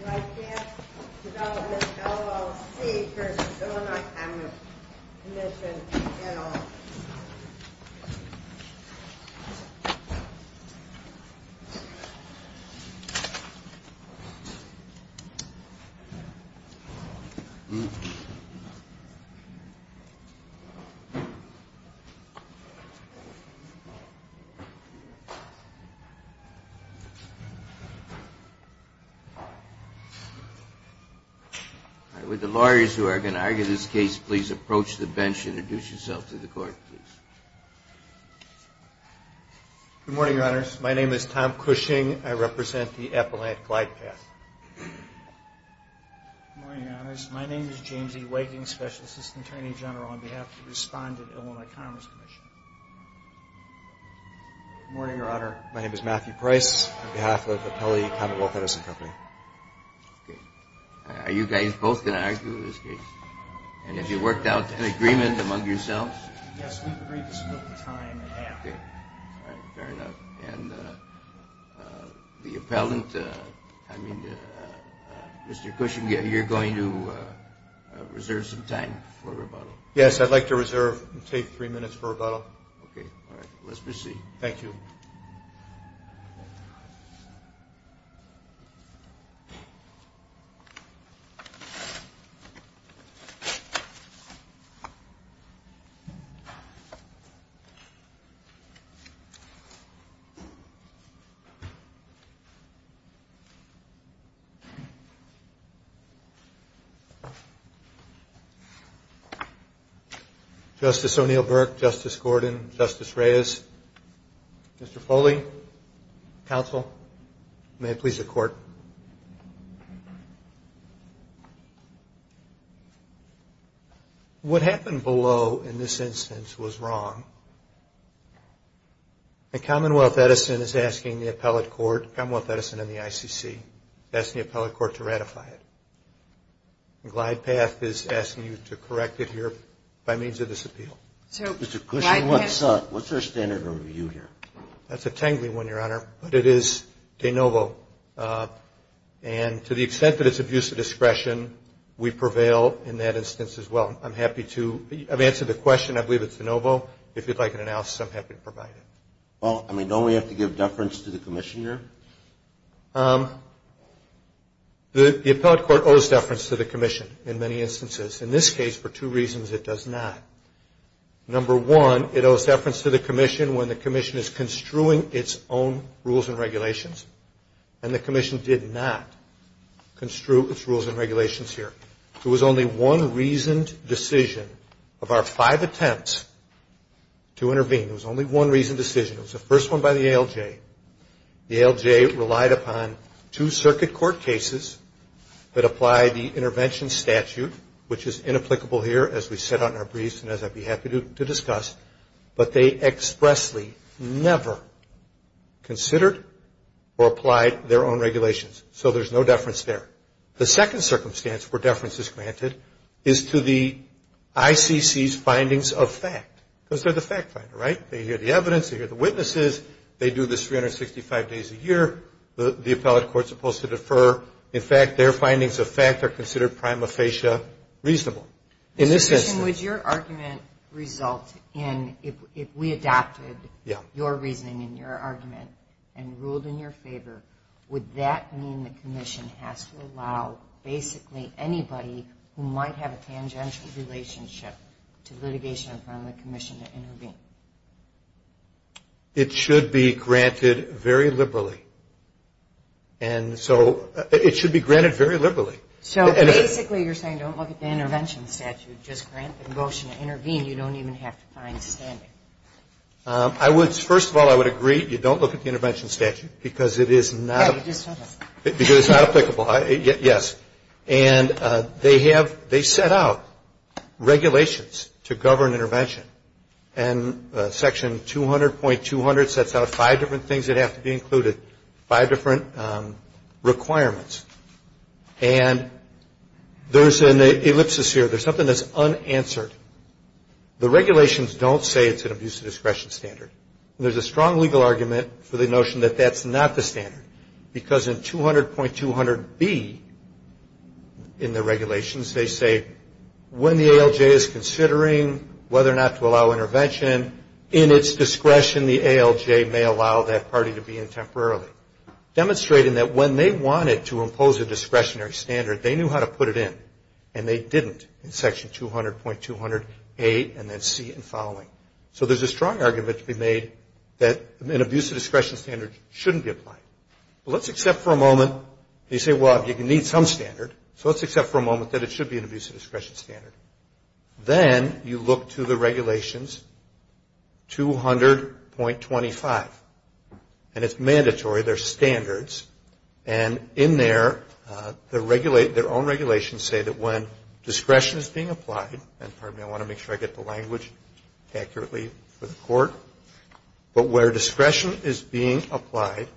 Glidepath Development, LLC v. Illinois Commerce Commission, NL Good morning, Your Honors. My name is Tom Cushing. I represent the Appellant Glidepath. Good morning, Your Honors. My name is James E. Waking, Special Assistant Attorney General on behalf of the Respondent, Illinois Commerce Commission. Good morning, Your Honor. My name is Matthew Price on behalf of Appellee Commonwealth Edison Company. Okay. Are you guys both going to argue this case? And have you worked out an agreement among yourselves? Yes, we've agreed to split the time in half. Okay. All right. Fair enough. And the Appellant, I mean, Mr. Cushing, you're going to reserve some time for rebuttal? Yes, I'd like to reserve and take three minutes for rebuttal. Okay. All right. Let's proceed. Thank you. Justice O'Neill Burke, Justice Gordon, Justice Reyes, Mr. Foley, Counsel, may it please the Court. What happened below in this instance was wrong. And Commonwealth Edison is asking the appellate court, Commonwealth Edison and the ICC, asking the appellate court to ratify it. And GlidePath is asking you to correct it here by means of this appeal. Mr. Cushing, what's our standard of review here? That's a tangling one, Your Honor, but it is de novo. And to the extent that it's abuse of discretion, we prevail in that instance as well. I'm happy to – I've answered the question. I believe it's de novo. If you'd like an analysis, I'm happy to provide it. Well, I mean, don't we have to give deference to the Commissioner? The appellate court owes deference to the Commission in many instances. In this case, for two reasons, it does not. Number one, it owes deference to the Commission when the Commission is construing its own rules and regulations, and the Commission did not construe its rules and regulations here. There was only one reasoned decision of our five attempts to intervene. There was only one reasoned decision. It was the first one by the ALJ. The ALJ relied upon two circuit court cases that apply the intervention statute, which is inapplicable here as we set out in our briefs and as I'd be happy to discuss, but they expressly never considered or applied their own regulations. So there's no deference there. The second circumstance where deference is granted is to the ICC's findings of fact, because they're the fact finder, right? They hear the evidence. They hear the witnesses. They do this 365 days a year. The appellate court's supposed to defer. In fact, their findings of fact are considered prima facie reasonable in this instance. Mr. Chisholm, would your argument result in if we adopted your reasoning and your argument and ruled in your favor, would that mean the Commission has to allow basically anybody who might have a tangential relationship to litigation from the Commission to intervene? It should be granted very liberally. And so it should be granted very liberally. So basically you're saying don't look at the intervention statute. Just grant the motion to intervene. You don't even have to find standing. First of all, I would agree you don't look at the intervention statute because it is not applicable. Yes. And they set out regulations to govern intervention. And Section 200.200 sets out five different things that have to be included, five different requirements. And there's an ellipsis here. There's something that's unanswered. The regulations don't say it's an abuse of discretion standard. There's a strong legal argument for the notion that that's not the standard, because in 200.200B in the regulations they say when the ALJ is considering whether or not to allow intervention, in its discretion the ALJ may allow that party to be in temporarily, demonstrating that when they wanted to impose a discretionary standard, they knew how to put it in. And they didn't in Section 200.200A and then C and following. So there's a strong argument to be made that an abuse of discretion standard shouldn't be applied. Well, let's accept for a moment. You say, well, you need some standard. So let's accept for a moment that it should be an abuse of discretion standard. Then you look to the regulations 200.25. And it's mandatory. They're standards. And in there their own regulations say that when discretion is being applied, and pardon me, I want to make sure I get the language accurately for the court, but where discretion is being applied,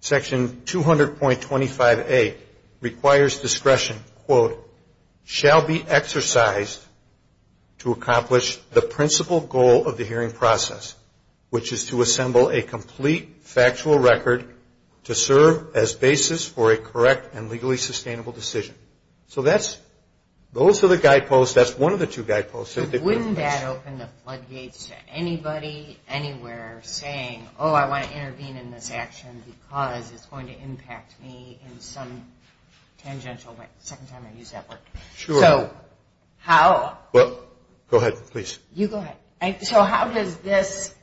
Section 200.25A requires discretion, quote, shall be exercised to accomplish the principal goal of the hearing process, which is to assemble a complete factual record to serve as basis for a correct and legally sustainable decision. So that's, those are the guideposts. That's one of the two guideposts. But wouldn't that open the floodgates to anybody anywhere saying, oh, I want to intervene in this action because it's going to impact me in some tangential way, second time I use that word. Sure. So how. Well, go ahead, please. You go ahead. So how does this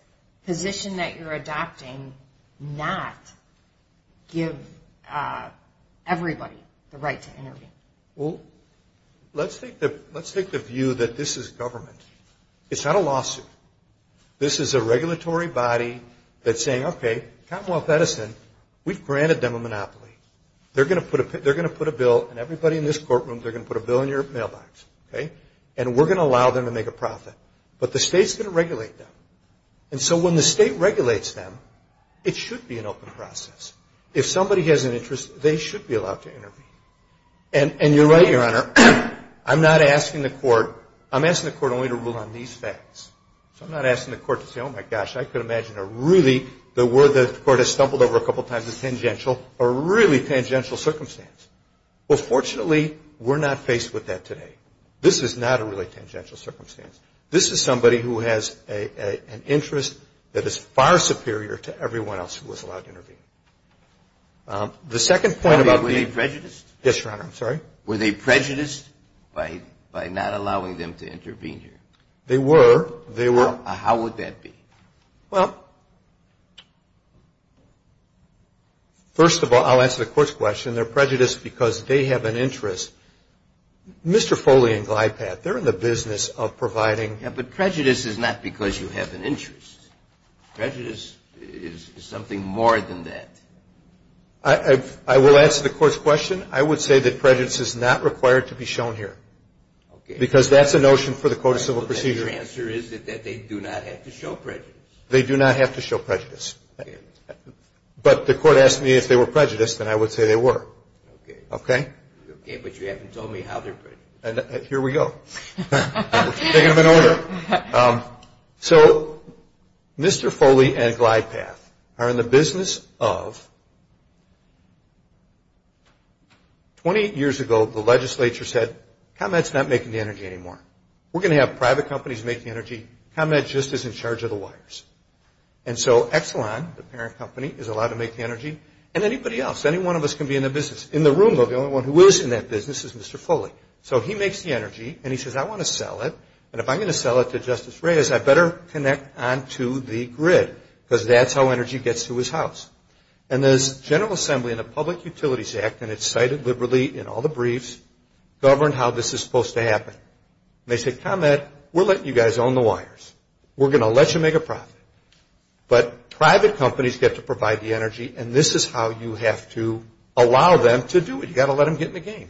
position that you're adopting not give everybody the right to intervene? Well, let's take the view that this is government. It's not a lawsuit. This is a regulatory body that's saying, okay, Commonwealth Edison, we've granted them a monopoly. They're going to put a bill, and everybody in this courtroom, they're going to put a bill in your mailbox. And we're going to allow them to make a profit. But the state's going to regulate them. And so when the state regulates them, it should be an open process. If somebody has an interest, they should be allowed to intervene. And you're right, Your Honor, I'm not asking the court, I'm asking the court only to rule on these facts. So I'm not asking the court to say, oh, my gosh, I could imagine a really, the word the court has stumbled over a couple times is tangential, a really tangential circumstance. Well, fortunately, we're not faced with that today. This is not a really tangential circumstance. This is somebody who has an interest that is far superior to everyone else who is allowed to intervene. The second point about being. Were they prejudiced? Yes, Your Honor, I'm sorry. Were they prejudiced by not allowing them to intervene here? They were. They were. How would that be? Well, first of all, I'll answer the court's question. They're prejudiced because they have an interest. Mr. Foley and Glypad, they're in the business of providing. Yeah, but prejudice is not because you have an interest. Prejudice is something more than that. I will answer the court's question. I would say that prejudice is not required to be shown here. Okay. Because that's a notion for the Code of Civil Procedure. Your answer is that they do not have to show prejudice. They do not have to show prejudice. Okay. But the court asked me if they were prejudiced, and I would say they were. Okay. Okay. Okay, but you haven't told me how they're prejudiced. Here we go. We're taking them in order. So, Mr. Foley and Glypad are in the business of, 20 years ago, the legislature said, ComEd's not making the energy anymore. We're going to have private companies make the energy. ComEd just is in charge of the wires. And so, Exelon, the parent company, is allowed to make the energy. And anybody else, any one of us can be in the business. In the room, though, the only one who is in that business is Mr. Foley. So, he makes the energy, and he says, I want to sell it. And if I'm going to sell it to Justice Reyes, I better connect onto the grid, because that's how energy gets to his house. And this General Assembly and the Public Utilities Act, and it's cited liberally in all the briefs, governed how this is supposed to happen. And they said, ComEd, we're letting you guys own the wires. We're going to let you make a profit. But private companies get to provide the energy, and this is how you have to allow them to do it. You've got to let them get in the game.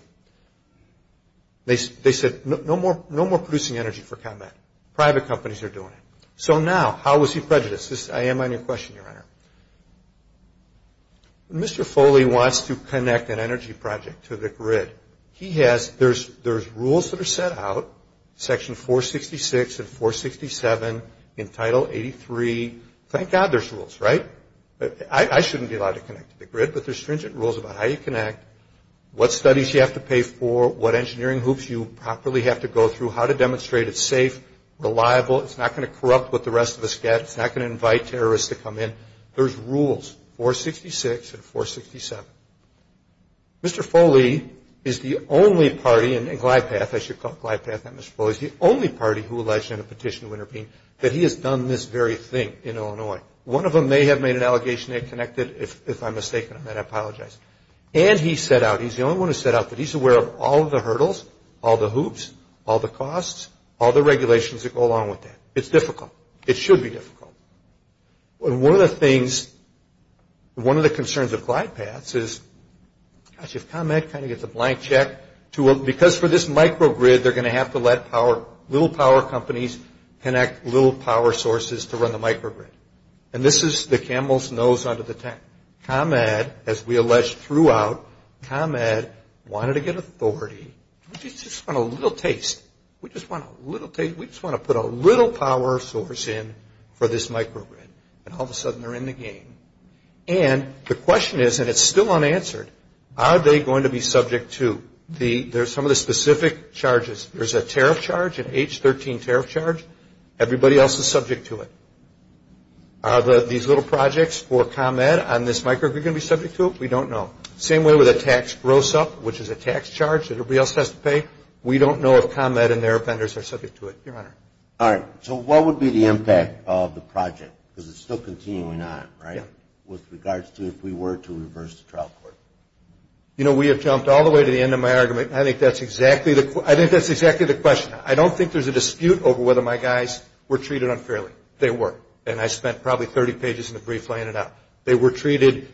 They said, no more producing energy for ComEd. Private companies are doing it. So, now, how is he prejudiced? I am on your question, Your Honor. When Mr. Foley wants to connect an energy project to the grid, there's rules that are set out, Section 466 and 467, in Title 83. Thank God there's rules, right? I shouldn't be allowed to connect to the grid, but there's stringent rules about how you connect, what studies you have to pay for, what engineering hoops you properly have to go through, how to demonstrate it's safe, reliable. It's not going to corrupt what the rest of us get. It's not going to invite terrorists to come in. There's rules, 466 and 467. Mr. Foley is the only party, and Glypath, I should call it Glypath, not Mr. Foley, is the only party who alleged in a petition to intervene that he has done this very thing in Illinois. One of them may have made an allegation they connected. If I'm mistaken on that, I apologize. And he set out, he's the only one who set out that he's aware of all the hurdles, all the hoops, all the costs, all the regulations that go along with that. It's difficult. It should be difficult. One of the things, one of the concerns of Glypath is, gosh, if ComEd kind of gets a blank check, because for this microgrid, they're going to have to let little power companies connect little power sources to run the microgrid. And this is the camel's nose under the tent. ComEd, as we alleged throughout, ComEd wanted to get authority. We just want a little taste. We just want a little taste. We just want to put a little power source in for this microgrid. And all of a sudden, they're in the game. And the question is, and it's still unanswered, are they going to be subject to the, there's some of the specific charges. There's a tariff charge, an H13 tariff charge. Everybody else is subject to it. Are these little projects for ComEd on this microgrid going to be subject to it? We don't know. Same way with a tax gross-up, which is a tax charge that everybody else has to pay. We don't know if ComEd and their vendors are subject to it, Your Honor. All right. So what would be the impact of the project, because it's still continuing on, right, with regards to if we were to reverse the trial court? You know, we have jumped all the way to the end of my argument, and I think that's exactly the question. I don't think there's a dispute over whether my guys were treated unfairly. They were, and I spent probably 30 pages in the brief laying it out. They were treated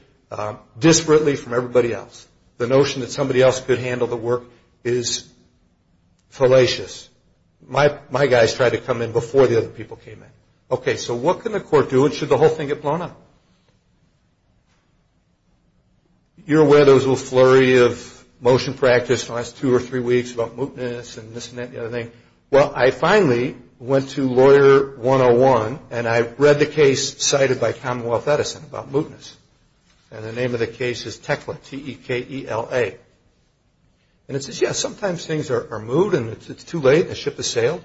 disparately from everybody else. The notion that somebody else could handle the work is fallacious. My guys tried to come in before the other people came in. Okay, so what can the court do, and should the whole thing get blown up? You're aware there was a little flurry of motion practice in the last two or three weeks about mootness and this and that and the other thing. Well, I finally went to Lawyer 101, and I read the case cited by Commonwealth Edison about mootness, and the name of the case is Tekla, T-E-K-E-L-A. And it says, yes, sometimes things are moot, and it's too late, the ship has sailed,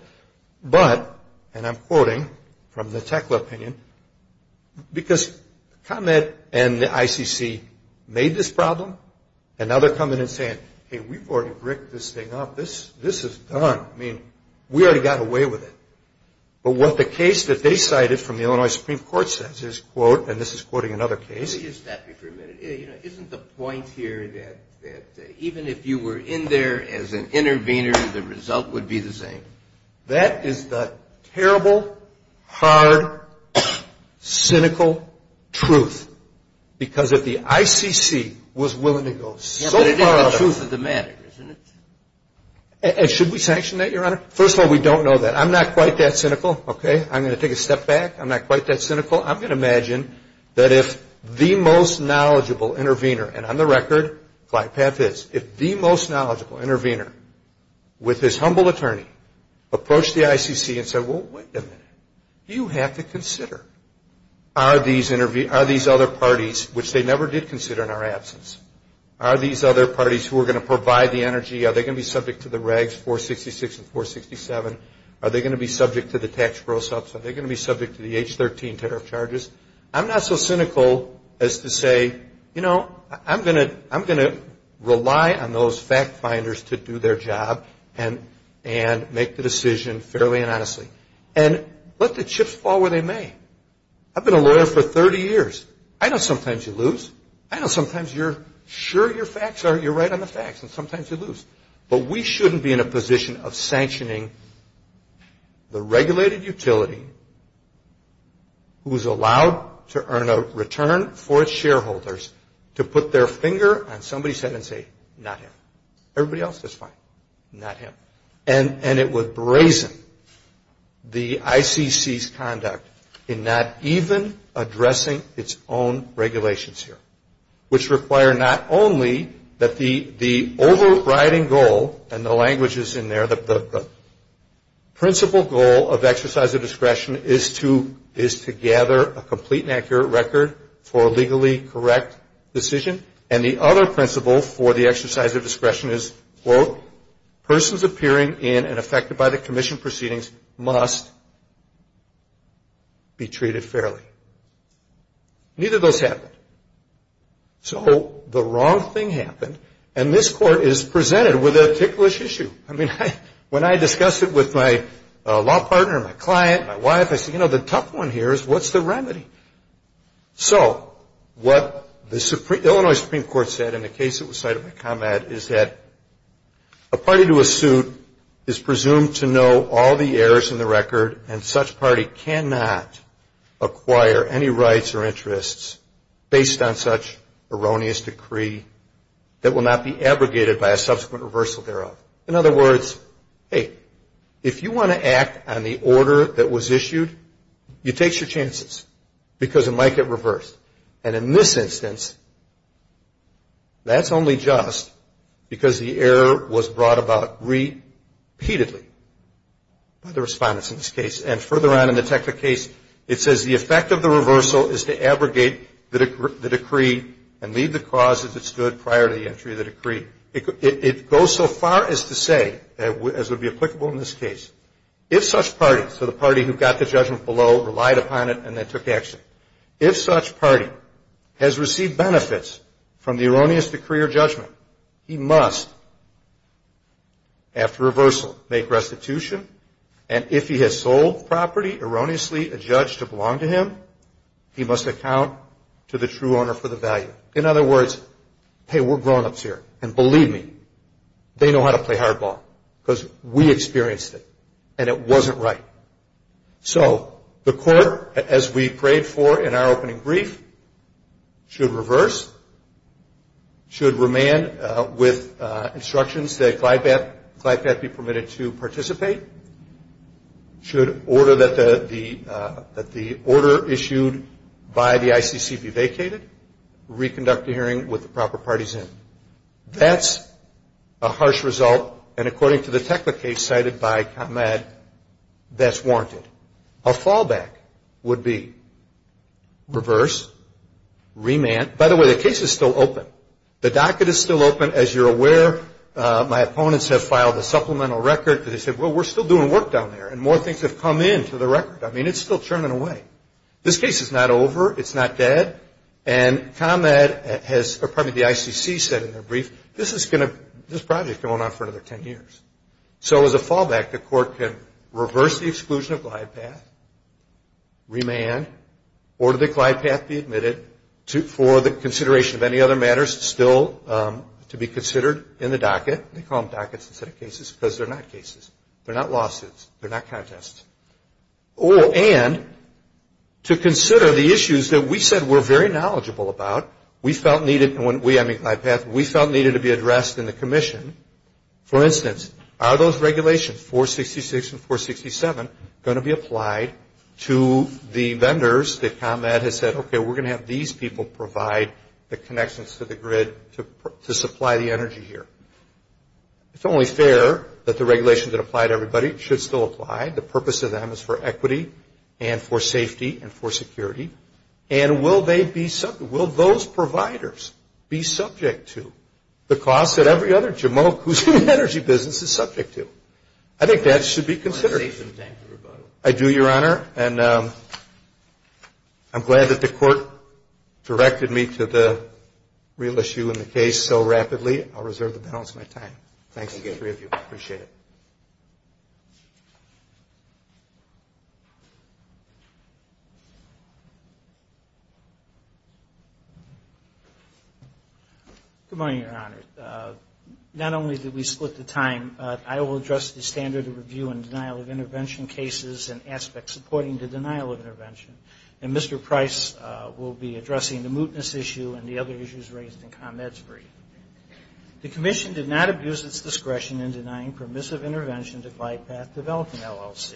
but, and I'm quoting from the Tekla opinion, because ComEd and the ICC made this problem, and now they're coming in and saying, hey, we've already bricked this thing up. This is done. I mean, we already got away with it. But what the case that they cited from the Illinois Supreme Court says is, quote, and this is quoting another case. Let me just stop you for a minute. Isn't the point here that even if you were in there as an intervener, the result would be the same? That is the terrible, hard, cynical truth, because if the ICC was willing to go so far. Yes, but it is the truth of the matter, isn't it? And should we sanction that, Your Honor? First of all, we don't know that. I'm not quite that cynical. Okay? I'm going to take a step back. I'm not quite that cynical. I'm going to imagine that if the most knowledgeable intervener, and on the record, if the most knowledgeable intervener, with his humble attorney, approached the ICC and said, well, wait a minute. You have to consider, are these other parties, which they never did consider in our absence, are these other parties who are going to provide the energy, are they going to be subject to the regs, 466 and 467? Are they going to be subject to the tax grow subs? Are they going to be subject to the H-13 tariff charges? I'm not so cynical as to say, you know, I'm going to rely on those fact finders to do their job and make the decision fairly and honestly. And let the chips fall where they may. I've been a lawyer for 30 years. I know sometimes you lose. I know sometimes you're sure your facts are, you're right on the facts, and sometimes you lose. But we shouldn't be in a position of sanctioning the regulated utility who is allowed to earn a return for its shareholders to put their finger on somebody's head and say, not him. Everybody else is fine. Not him. And it would brazen the ICC's conduct in not even addressing its own regulations here, which require not only that the overriding goal, and the language is in there, the principal goal of exercise of discretion is to gather a complete and accurate record for a legally correct decision. And the other principle for the exercise of discretion is, quote, persons appearing in and affected by the commission proceedings must be treated fairly. Neither of those happen. So the wrong thing happened, and this court is presented with a ticklish issue. I mean, when I discussed it with my law partner, my client, my wife, I said, you know, the tough one here is what's the remedy? So what the Illinois Supreme Court said in the case that was cited in my comment is that a party to a suit is presumed to know all the errors in the record, and such party cannot acquire any rights or interests based on such erroneous decree that will not be abrogated by a subsequent reversal thereof. In other words, hey, if you want to act on the order that was issued, you take your chances, because it might get reversed. And in this instance, that's only just because the error was brought about repeatedly by the respondents in this case. And further on in the technical case, it says the effect of the reversal is to abrogate the decree and leave the cause as it stood prior to the entry of the decree. It goes so far as to say, as would be applicable in this case, if such party, so the party who got the judgment below relied upon it and then took action. If such party has received benefits from the erroneous decree or judgment, he must, after reversal, make restitution. And if he has sold property erroneously adjudged to belong to him, he must account to the true owner for the value. In other words, hey, we're grownups here, and believe me, they know how to play hardball, because we experienced it, and it wasn't right. So the court, as we prayed for in our opening brief, should reverse, should remand with instructions that Glybat be permitted to participate, should order that the order issued by the ICC be vacated, reconduct a hearing with the proper parties in. That's a harsh result, and according to the technical case cited by ComEd, that's warranted. A fallback would be reverse, remand. By the way, the case is still open. The docket is still open, as you're aware. My opponents have filed a supplemental record, because they said, well, we're still doing work down there, and more things have come into the record. I mean, it's still churning away. This case is not over. It's not dead. And ComEd has, or probably the ICC said in their brief, this project is going on for another 10 years. So as a fallback, the court can reverse the exclusion of Glybat, remand, order that Glybat be admitted for the consideration of any other matters still to be considered in the docket. They call them dockets instead of cases, because they're not cases. They're not lawsuits. They're not contests. And to consider the issues that we said we're very knowledgeable about, we felt needed to be addressed in the commission. For instance, are those regulations, 466 and 467, going to be applied to the vendors that ComEd has said, okay, we're going to have these people provide the connections to the grid to supply the energy here. It's only fair that the regulations that apply to everybody should still apply. The purpose of them is for equity and for safety and for security. And will those providers be subject to the costs that every other jamoke who's in the energy business is subject to? I think that should be considered. I do, Your Honor. And I'm glad that the court directed me to the real issue in the case so rapidly. I'll reserve the balance of my time. Thanks to the three of you. Appreciate it. Good morning, Your Honor. Not only did we split the time, I will address the standard of review and denial of intervention cases and aspects supporting the denial of intervention. And Mr. Price will be addressing the mootness issue and the other issues raised in ComEd's brief. The Commission did not abuse its discretion in denying permissive intervention to GlidePath Development, LLC.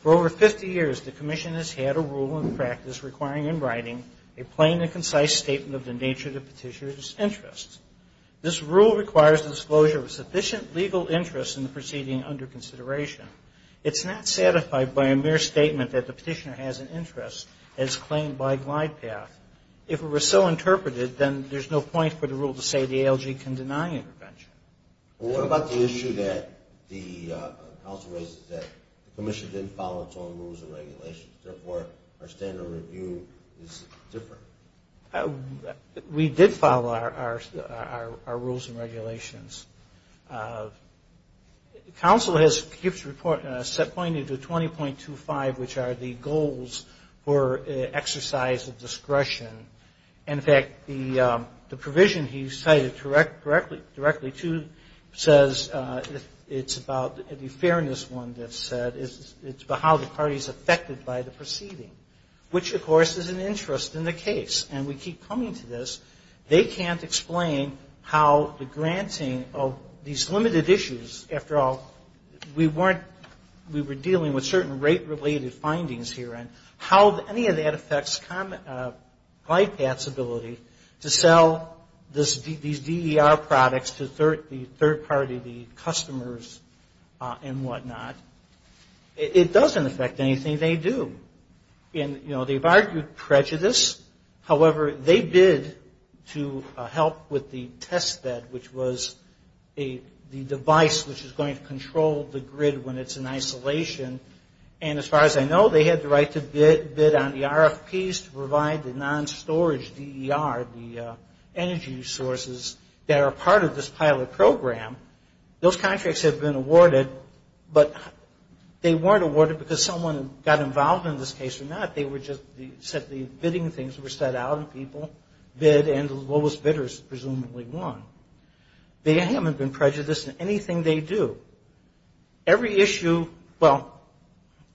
For over 50 years, the Commission has had a rule in practice requiring in writing a plain and concise statement of the nature of the petitioner's interests. This rule requires disclosure of sufficient legal interest in the proceeding under consideration. It's not satisfied by a mere statement that the petitioner has an interest as claimed by GlidePath. If it were so interpreted, then there's no point for the rule to say the ALG can deny intervention. What about the issue that the Council raises that the Commission didn't follow its own rules and regulations? Therefore, our standard of review is different. The Council has set pointing to 20.25, which are the goals for exercise of discretion. In fact, the provision he cited directly, too, says it's about the fairness one that's said. It's about how the party's affected by the proceeding, which, of course, is an interest in the case. And we keep coming to this. They can't explain how the granting of these limited issues, after all, we weren't, we were dealing with certain rate-related findings here, and how any of that affects GlidePath's ability to sell these DER products to the third party, the customers, and whatnot. It doesn't affect anything they do. They've argued prejudice. However, they bid to help with the test bed, which was the device which is going to control the grid when it's in isolation. And as far as I know, they had the right to bid on the RFPs to provide the non-storage DER, the energy sources, that are part of this pilot program. Those contracts have been awarded, but they weren't awarded because someone got involved in this case or not. They were just said the bidding things were set out, and people bid, and the lowest bidders presumably won. They haven't been prejudiced in anything they do. Every issue, well,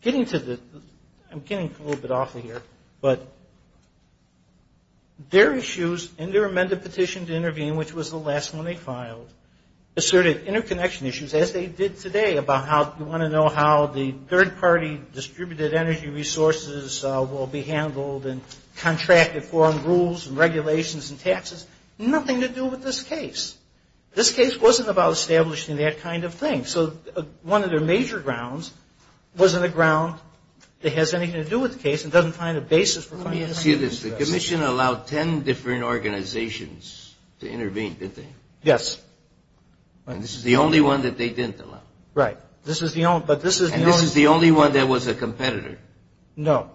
getting to the, I'm getting a little bit off of here, but their issues and their amended petition to intervene, which was the last one they filed, asserted interconnection issues, as they did today, about how you want to know how the third-party distributed energy resources will be handled, and contracted foreign rules and regulations and taxes. Nothing to do with this case. This case wasn't about establishing that kind of thing. So one of their major grounds wasn't a ground that has anything to do with the case and doesn't find a basis for finding anything to do with this. I'll ask you this. The commission allowed ten different organizations to intervene, didn't they? Yes. And this is the only one that they didn't allow? Right. This is the only one. And this is the only one that was a competitor? No.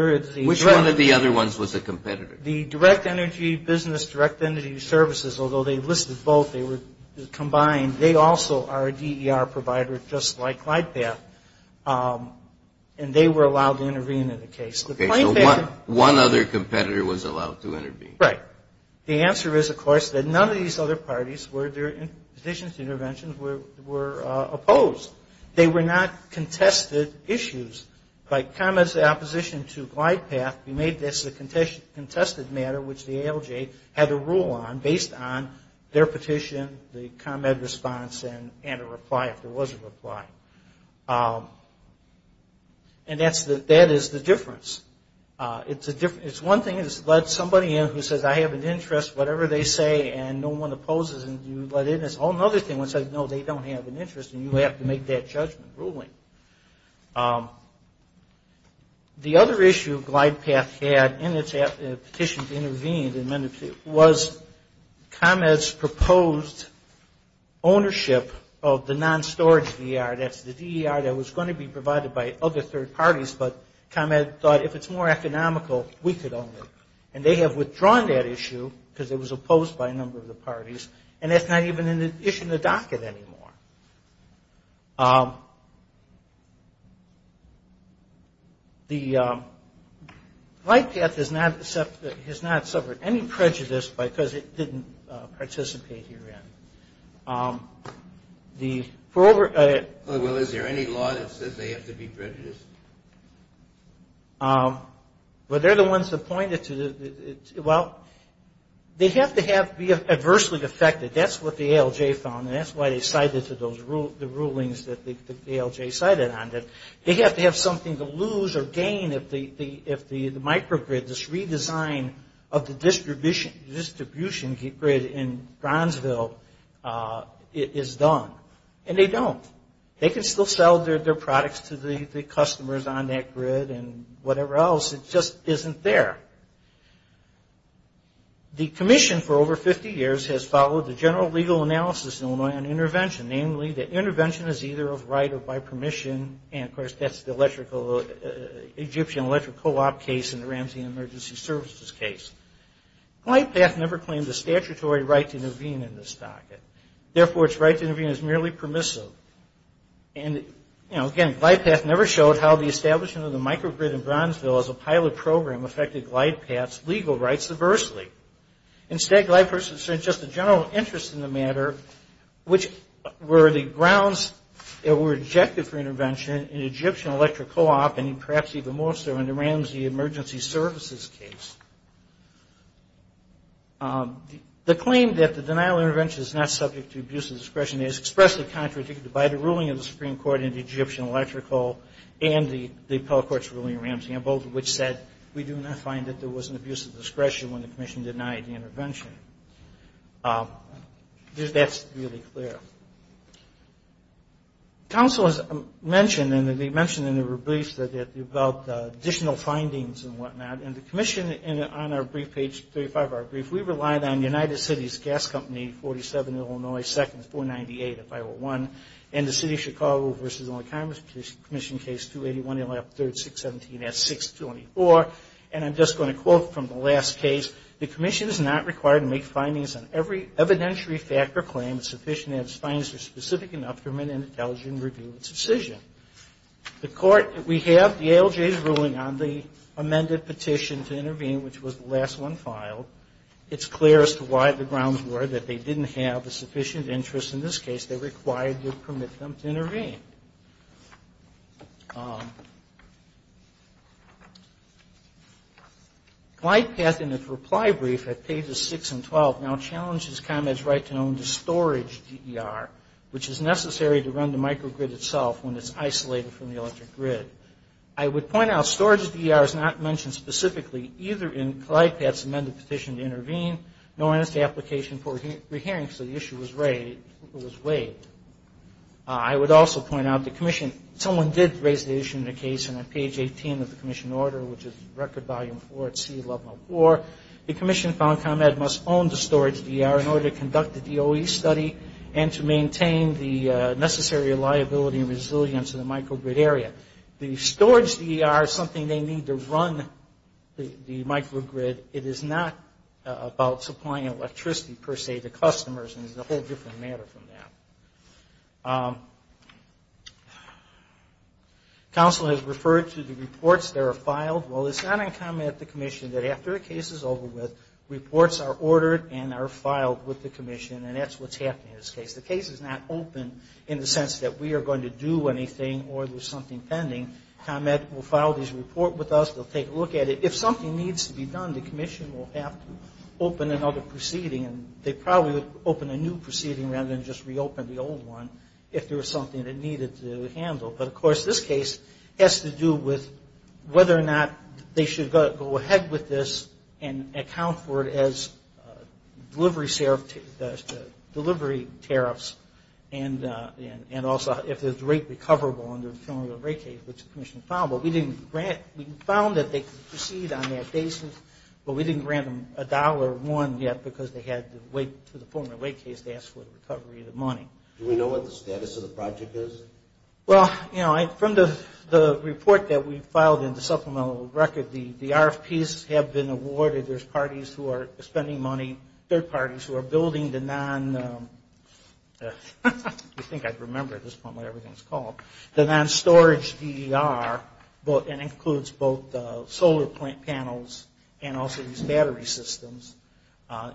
Which one of the other ones was a competitor? The direct energy business, direct energy services, although they listed both, they were combined, they also are a DER provider just like the ALJ in the case. So one other competitor was allowed to intervene? Right. The answer is, of course, that none of these other parties, their petitions to interventions were opposed. They were not contested issues. By comments of opposition to glide path, we made this a contested matter, which the ALJ had a rule on based on their petition, the comment response, and a reply, if there was a reply. And that is the difference between the two. It's a difference. It's one thing to let somebody in who says I have an interest, whatever they say, and no one opposes, and you let in, it's a whole other thing when it says, no, they don't have an interest, and you have to make that judgment ruling. The other issue glide path had in its petition to intervene was ComEd's proposed ownership of the non-storage DER. That's the DER that was going to be provided by other third parties, but ComEd thought if it's more economical, we could own it. And they have withdrawn that issue because it was opposed by a number of the parties, and that's not even an issue in the docket anymore. The glide path has not suffered any prejudice because it didn't participate herein. Well, is there any law that says they have to be prejudiced? Well, they're the ones that pointed to the, well, they have to be adversely affected. That's what the ALJ found, and that's why they cited to the rulings that the ALJ cited on it. They have to have something to lose or gain if the microgrid, this redesign of the distribution grid in Bronzeville is done, and they don't. They can still sell their products to the customers on that grid and whatever else. It just isn't there. Namely, the intervention is either of right or by permission, and of course, that's the Egyptian electric co-op case and the Ramsey emergency services case. Glide path never claimed a statutory right to intervene in this docket. Therefore, its right to intervene is merely permissive. And, you know, again, glide path never showed how the establishment of the microgrid in Bronzeville as a pilot program affected glide path's legal rights adversely. Instead, glide path showed just a general interest in the matter, which were the grounds that were rejected for intervention in Egyptian electric co-op and perhaps even more so in the Ramsey emergency services case. The claim that the denial of intervention is not subject to abuse of discretion is expressly contradicted by the ruling of the Supreme Court in the Egyptian electric co-op and the appellate court's ruling in Ramsey, both of which said we do not find that there was an abuse of discretion when the commission denied the intervention. That's really clear. Counsel has mentioned, and they mentioned in their briefs, that they developed additional findings and whatnot, and the commission on our brief, page 35 of our brief, we relied on United Cities Gas Company, 47, Illinois, second 498 of 501, and the City of Chicago v. Illinois Congress Commission case 281, 3rd, 617, S624. And I'm just going to quote from the last case. The commission is not required to make findings on every evidentiary fact or claim sufficient to have its findings are specific enough for an intelligent review and subcision. The court, we have the ALJ's ruling on the amended petition, and we have the amendment to intervene, which was the last one filed. It's clear as to why the grounds were that they didn't have the sufficient interest in this case. They required to permit them to intervene. Glyde Path in its reply brief at pages 6 and 12 now challenges ComEd's right to own the storage DER, which is necessary to run the microgrid itself when it's isolated from the electric grid. I would point out storage DER is not mentioned specifically in the Glyde Path's amended petition to intervene, nor is the application for re-hearing, because the issue was waived. I would also point out the commission, someone did raise the issue in a case on page 18 of the commission order, which is record volume 4 at C1104. The commission found ComEd must own the storage DER in order to conduct the DOE study and to maintain the necessary reliability and resilience of the microgrid area. The storage DER is something they need to run the storage DER. It is not about supplying electricity, per se, to customers. It's a whole different matter from that. Council has referred to the reports that are filed. Well, it's not uncommon at the commission that after a case is over with, reports are ordered and are filed with the commission, and that's what's happening in this case. The case is not open in the sense that we are going to do anything or there's something pending. ComEd will file this report with us. They'll take a look at it. If something needs to be done, the commission will have to open another proceeding. They probably would open a new proceeding rather than just reopen the old one if there was something it needed to handle. But, of course, this case has to do with whether or not they should go ahead with this and account for it as delivery tariffs and also if there's rate recoverable under the rate case, which the commission has to do. We did not grant them a dollar one yet because they had to wait for the former rate case to ask for the recovery of the money. Do we know what the status of the project is? Well, you know, from the report that we filed in the supplemental record, the RFPs have been awarded. There's parties who are spending money, third parties who are building the non- I think I remember at this point what everything is called, the non-storage DER and includes both solar panels and also these battery systems.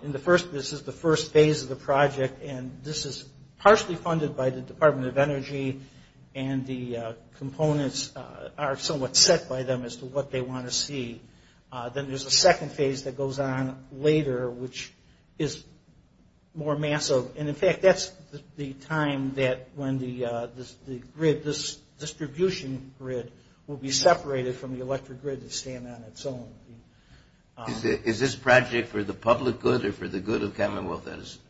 This is the first phase of the project and this is partially funded by the Department of Energy and the components are somewhat set by them as to what they want to see. Then there's a second phase that goes on later, which is more massive. In fact, that's the time that when this distribution grid will be separated from the electric grid and stand on its own. Is this project for the public good or for the good of Commonwealth Edison?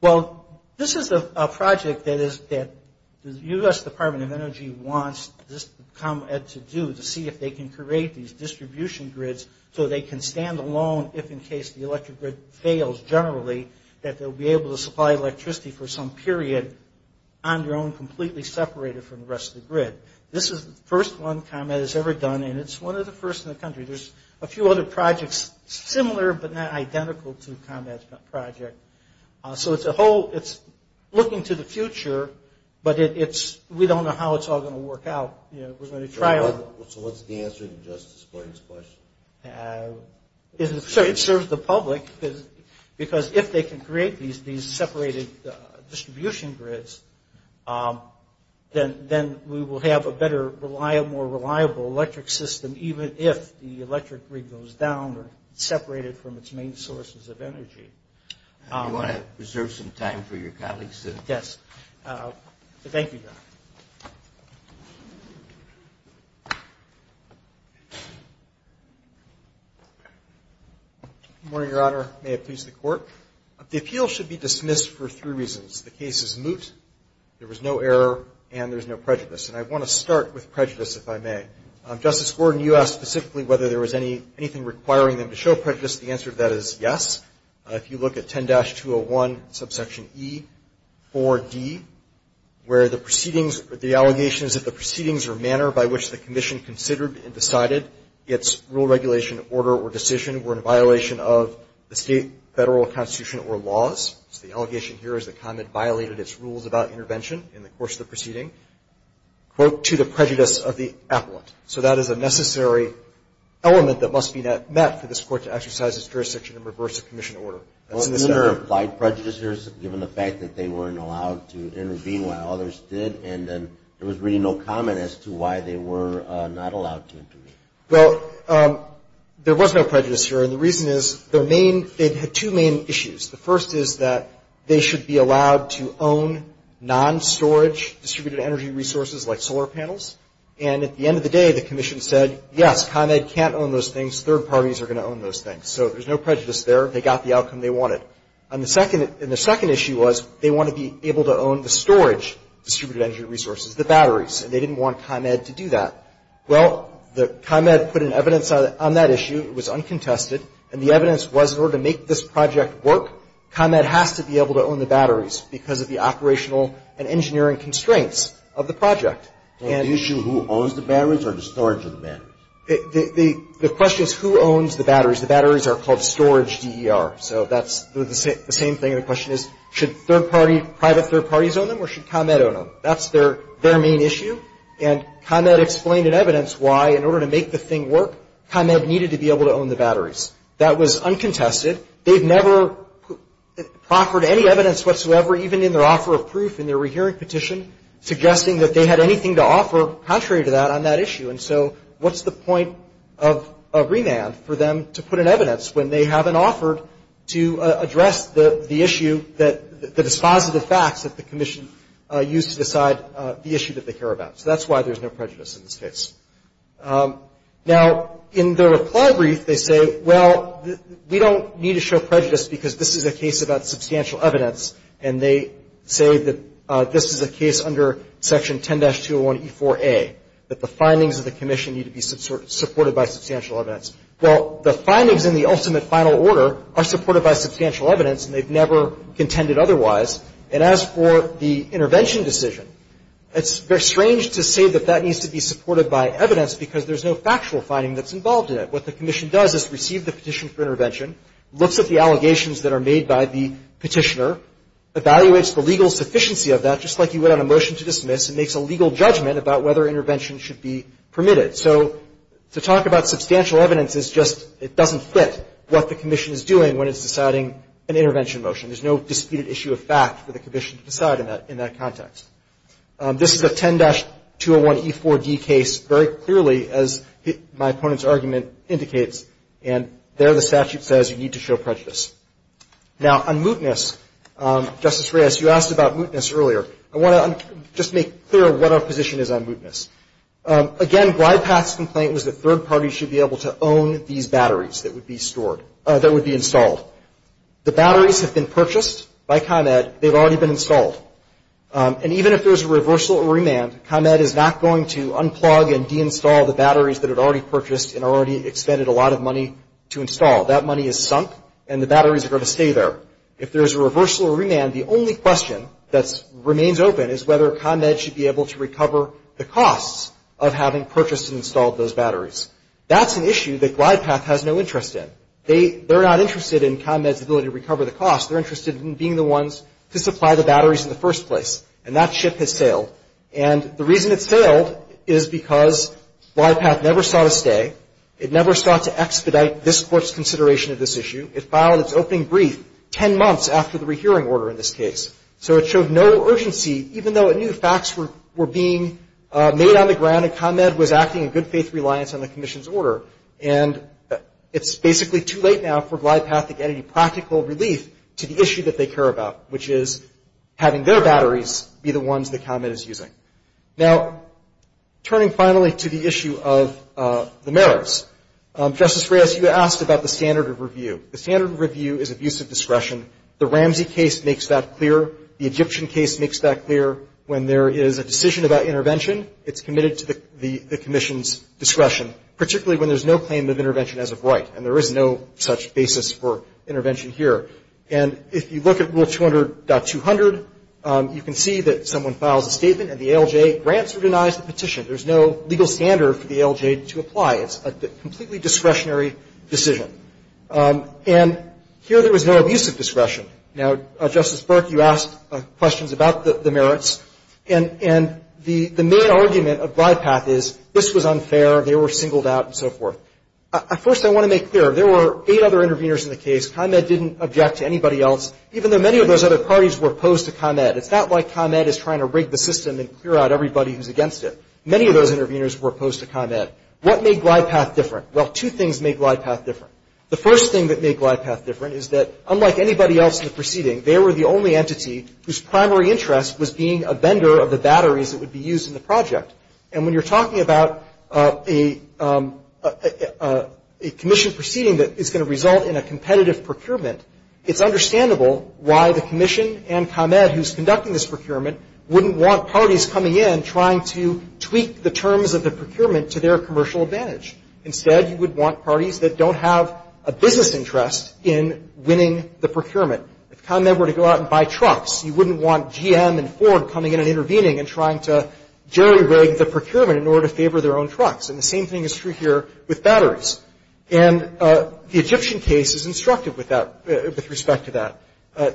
Well, this is a project that the U.S. Department of Energy wants this to do to see if they can create these distribution grids so they can stand alone if in case the electric grid fails generally that they'll be able to supply electricity for some period on their own completely separated from the rest of the grid. This is the first one ComEd has ever done and it's one of the first in the country. There's a few other projects similar but not identical to ComEd's project. So it's looking to the future, but we don't know how it's all going to work out. So what's the answer to Justice Boyd's question? It serves the public because if they can create these separated distribution grids, then we will have a better, more reliable electric system even if the electric grid goes down or separated from its main sources of energy. Do you want to reserve some time for your colleagues? Yes. Thank you, Your Honor. Good morning, Your Honor. May it please the Court. The appeal should be dismissed for three reasons. The case is moot, there was no error, and there's no prejudice. And I want to start with prejudice, if I may. Justice Gordon, you asked specifically whether there was anything requiring them to show prejudice. The answer to that is yes. If you look at 10-201, subsection E, 4D, where the allegations of the proceedings or manner by which the Commission considered and decided its rule, regulation, order, or decision were in violation of the state, federal, constitution, or laws. So the allegation here is that ComEd violated its rules about intervention in the course of the proceeding. Quote, to the prejudice of the appellant. So that is a necessary element that must be met for this Court to exercise its jurisdiction in reverse of Commission order. Well, isn't there applied prejudice here, given the fact that they weren't allowed to intervene while others did, and then there was really no comment as to why they were not allowed to intervene? Well, there was no prejudice here, and the reason is their main, they had two main issues. The first is that they should be allowed to own non-storage distributed energy resources like solar panels, and at the end of the day, the Commission said, yes, ComEd can't own those things. Third parties are going to own those things. So there's no prejudice there. They got the outcome they wanted. And the second issue was they want to be able to own the storage distributed energy resources, the batteries, and they didn't want ComEd to do that. Well, ComEd put an evidence on that issue. It was uncontested, and the evidence was in order to make this project work, ComEd has to be able to own the batteries because of the operational and engineering constraints of the project. And the issue, who owns the batteries or the storage of the batteries? The question is who owns the batteries. The batteries are called storage DER, so that's the same thing. The question is, should third party, private third parties own them, or should ComEd own them? That's their main issue, and ComEd explained in evidence why, in order to make the thing work, ComEd needed to be able to own the batteries. And they never proffered any evidence whatsoever, even in their offer of proof in their rehearing petition, suggesting that they had anything to offer contrary to that on that issue. And so what's the point of remand for them to put an evidence when they haven't offered to address the issue, the dispositive facts that the Commission used to decide the issue that they care about? So that's why there's no prejudice in this case. Now, in the reply brief, they say, well, we don't need to show prejudice because this is a case about substantial evidence, and they say that this is a case under Section 10-201E4A, that the findings of the Commission need to be supported by substantial evidence. Well, the findings in the ultimate final order are supported by substantial evidence, and they've never contended otherwise. And as for the intervention decision, it's very strange to say that that needs to be supported by evidence. Because there's no factual finding that's involved in it. What the Commission does is receive the petition for intervention, looks at the allegations that are made by the petitioner, evaluates the legal sufficiency of that, just like you would on a motion to dismiss, and makes a legal judgment about whether intervention should be permitted. So to talk about substantial evidence is just, it doesn't fit what the Commission is doing when it's deciding an intervention motion. There's no disputed issue of fact for the Commission to decide in that context. This is a 10-201E4D case, very clearly, as my opponent's argument indicates, and there the statute says you need to show prejudice. Now, on mootness, Justice Reyes, you asked about mootness earlier. I want to just make clear what our position is on mootness. Again, Blypath's complaint was that third parties should be able to own these batteries that would be stored, that would be installed. The batteries have been purchased by ComEd. They've already been installed. And each battery, even if there's a reversal or remand, ComEd is not going to unplug and deinstall the batteries that it already purchased and already expended a lot of money to install. That money is sunk, and the batteries are going to stay there. If there's a reversal or remand, the only question that remains open is whether ComEd should be able to recover the costs of having purchased and installed those batteries. That's an issue that Blypath has no interest in. They're not interested in ComEd's ability to recover the costs. They're interested in being the ones to supply the batteries in the first place. And that ship has sailed. And the reason it's sailed is because Blypath never sought a stay. It never sought to expedite this Court's consideration of this issue. It filed its opening brief ten months after the rehearing order in this case. So it showed no urgency, even though it knew facts were being made on the ground and ComEd was acting in good faith reliance on the Commission's order. And it's basically too late now for Blypath to get any practical relief to the issue that they care about, which is having their batteries be the ones that ComEd is using. Now, turning finally to the issue of the merits, Justice Reyes, you asked about the standard of review. The standard of review is abuse of discretion. The Ramsey case makes that clear. The Egyptian case makes that clear. When there is a decision about intervention, it's committed to the Commission's discretion, particularly when there's no claim of intervention as of this year. And if you look at Rule 200.200, you can see that someone files a statement and the ALJ grants or denies the petition. There's no legal standard for the ALJ to apply. It's a completely discretionary decision. And here there was no abuse of discretion. Now, Justice Burke, you asked questions about the merits. And the main argument of Blypath is this was unfair, they were singled out, and so forth. First, I want to make clear, there were eight other interveners in the case. ComEd didn't object to anybody else, even though many of those other parties were opposed to ComEd. It's not like ComEd is trying to rig the system and clear out everybody who's against it. Many of those interveners were opposed to ComEd. What made Blypath different? Well, two things made Blypath different. The first thing that made Blypath different is that, unlike anybody else in the proceeding, they were the only entity whose primary interest was being a vendor of the batteries that would be used in the project. And when you're talking about a Commission proceeding that is going to result in a competitive procurement, it's understandable why the Commission and ComEd, who's conducting this procurement, wouldn't want parties coming in trying to tweak the terms of the procurement to their commercial advantage. Instead, you would want parties that don't have a business interest in winning the procurement. If ComEd were to go out and buy trucks, you wouldn't want GM and Ford coming in and intervening and trying to jerry-rig the procurement in order to favor their own trucks. And the same thing is true here with batteries. And the Egyptian case is instructive with respect to that.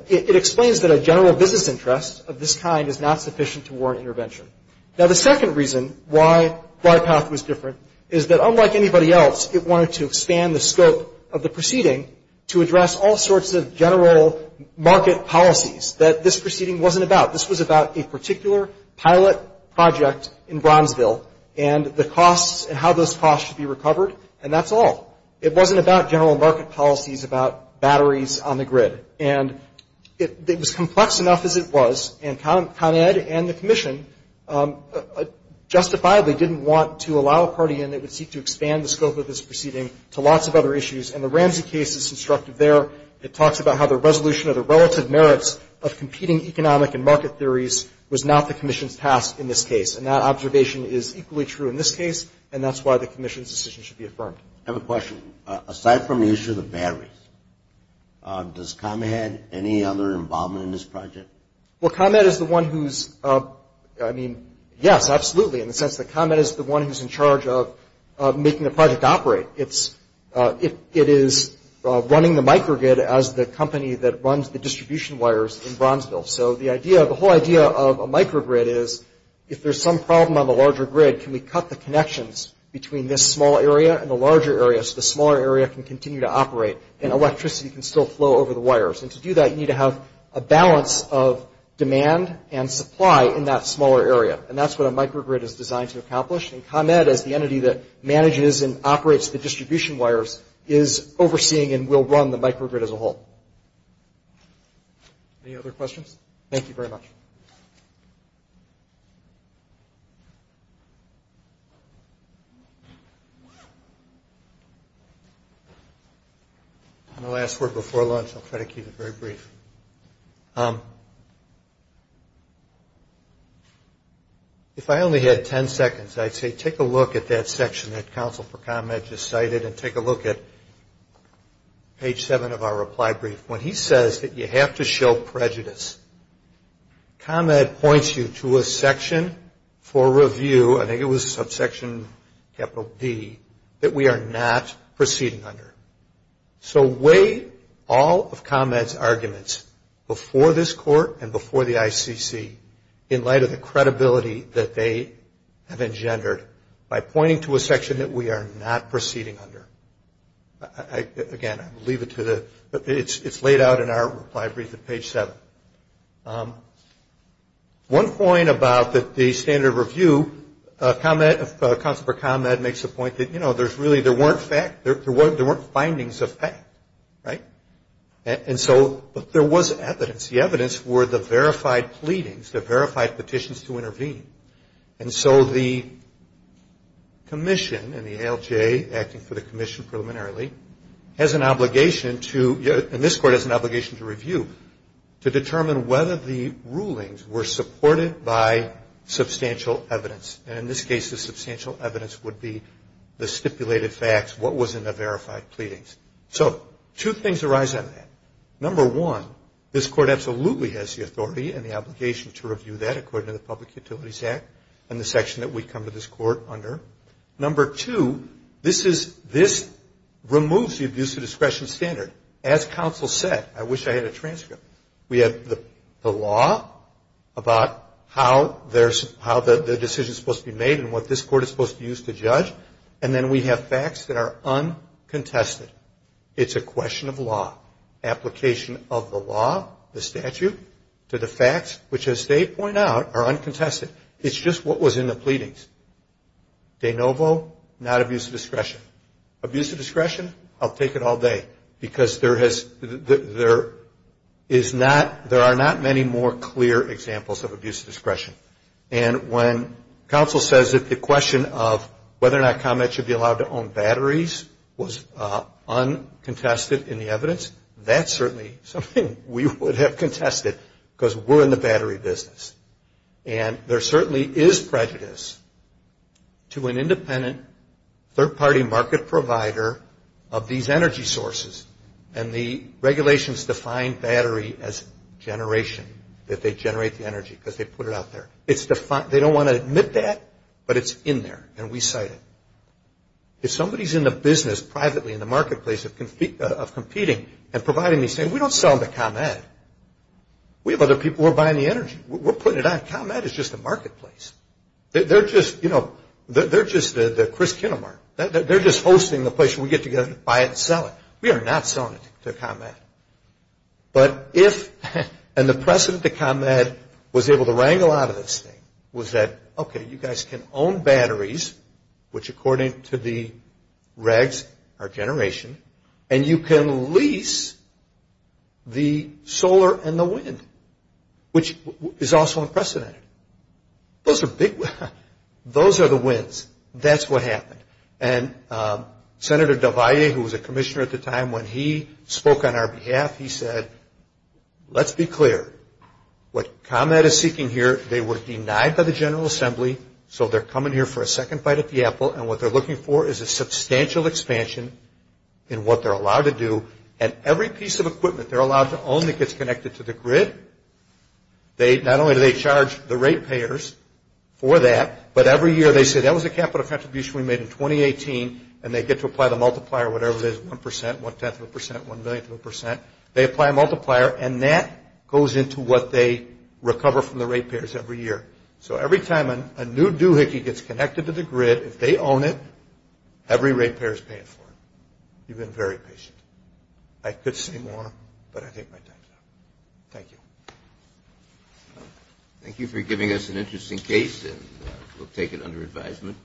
It explains that a general business interest of this kind is not sufficient to warrant intervention. Now, the second reason why Blypath was different is that, unlike anybody else, it wanted to expand the scope of the proceeding to address all sorts of general market policies that this proceeding wasn't about. This was about a particular pilot project in Bronzeville and the costs and how those costs should be recovered. And that's all. It wasn't about general market policies about batteries on the grid. And it was complex enough as it was, and ComEd and the Commission justifiably didn't want to allow a party in that would seek to expand the scope of this proceeding to lots of other issues. And the Ramsey case is instructive there. It talks about how the resolution of the relative merits of competing economic and market theories was not the Commission's task in this case. And that observation is equally true in this case, and that's why the Commission's decision should be affirmed. I have a question. Aside from the issue of the batteries, does ComEd have any other involvement in this project? Well, ComEd is the one who's, I mean, yes, absolutely, in the sense that ComEd is the one who's in charge of making the project operate. It is running the microgrid as the company that runs the distribution wires in Bronzeville. The whole idea of a microgrid is if there's some problem on the larger grid, can we cut the connections between this small area and the larger area so the smaller area can continue to operate and electricity can still flow over the wires? And to do that, you need to have a balance of demand and supply in that smaller area. And that's what a microgrid is designed to accomplish. And ComEd, as the entity that manages and operates the distribution wires, is overseeing and will run the microgrid as a whole. Thank you very much. And the last word before lunch, I'll try to keep it very brief. If I only had 10 seconds, I'd say take a look at that section that Counsel for ComEd just cited and take a look at page 7 of our reply brief. When he says that you have to show prejudice, ComEd points you to a section for review, I think it was subsection capital D, that we are not proceeding under. So weigh all of ComEd's arguments before this court and before the ICC in light of the credibility that they have engendered by pointing to a section that we are not proceeding under. Again, I'll leave it to the, it's laid out in our reply brief at page 7. One point about the standard review, ComEd, Counsel for ComEd makes the point that, you know, there's really, there weren't findings of fact, right? And so, but there was evidence. The evidence were the verified pleadings, the verified petitions to intervene. And so the commission and the ALJ acting for the commission preliminarily has an obligation to, and this court has an obligation to review, to determine whether the rulings were supported by substantial evidence. And in this case, the substantial evidence would be the stipulated facts, what was in the verified pleadings. So that's one of the reasons why we're not proceeding under the ComEd Act and the section that we come to this court under. Number two, this is, this removes the abuse of discretion standard. As counsel said, I wish I had a transcript, we have the law about how there's, how the decision's supposed to be made and what this court is supposed to use to judge. And then we have facts that are uncontested. It's a question of law. Application of the law, the statute, to the facts, which as they point out, are uncontested. It's just what was in the pleadings. De novo, not abuse of discretion. Abuse of discretion, I'll take it all day. Because there has, there is not, there are not many more clear examples of abuse of discretion. And when counsel says that the question of whether or not ComEd should be allowed to own batteries was uncontested in the case, there is prejudice. And there certainly is prejudice to an independent, third-party market provider of these energy sources. And the regulations define battery as generation, that they generate the energy because they put it out there. It's defined, they don't want to admit that, but it's in there. And we cite it. If somebody's in the business privately in the marketplace of competing and providing these things, we don't sell them to ComEd. We have other people who are buying the energy. We're putting it out. ComEd is just a marketplace. They're just, you know, they're just the Kris Kinnemar. They're just hosting the place where we get together to buy it and sell it. We are not selling it to ComEd. But if, and the precedent that ComEd was able to wrangle out of this thing was that, okay, you guys can own batteries, which according to the regs are generation, and you can lease the source of the energy. You can lease the source of the solar and the wind, which is also unprecedented. Those are big, those are the wins. That's what happened. And Senator Del Valle, who was a commissioner at the time, when he spoke on our behalf, he said, let's be clear. What ComEd is seeking here, they were denied by the General Assembly, so they're coming here for a second fight at the apple. And what they're looking for is a substantial expansion in what they're allowed to do. And every piece of equipment they're allowed to own that gets connected to the grid, not only do they charge the rate payers for that, but every year they say, that was a capital contribution we made in 2018, and they get to apply the multiplier, whatever it is, 1%, 1-10th of a percent, 1-millionth of a percent. They apply a multiplier, and that goes into what they recover from the rate payers every year. So every time a new doohickey gets connected to the grid, if they own it, every rate payer is paying for it. You've been very patient. I could say more, but I think my time is up. Thank you. Thank you for giving us an interesting case, and we'll take it under advisement.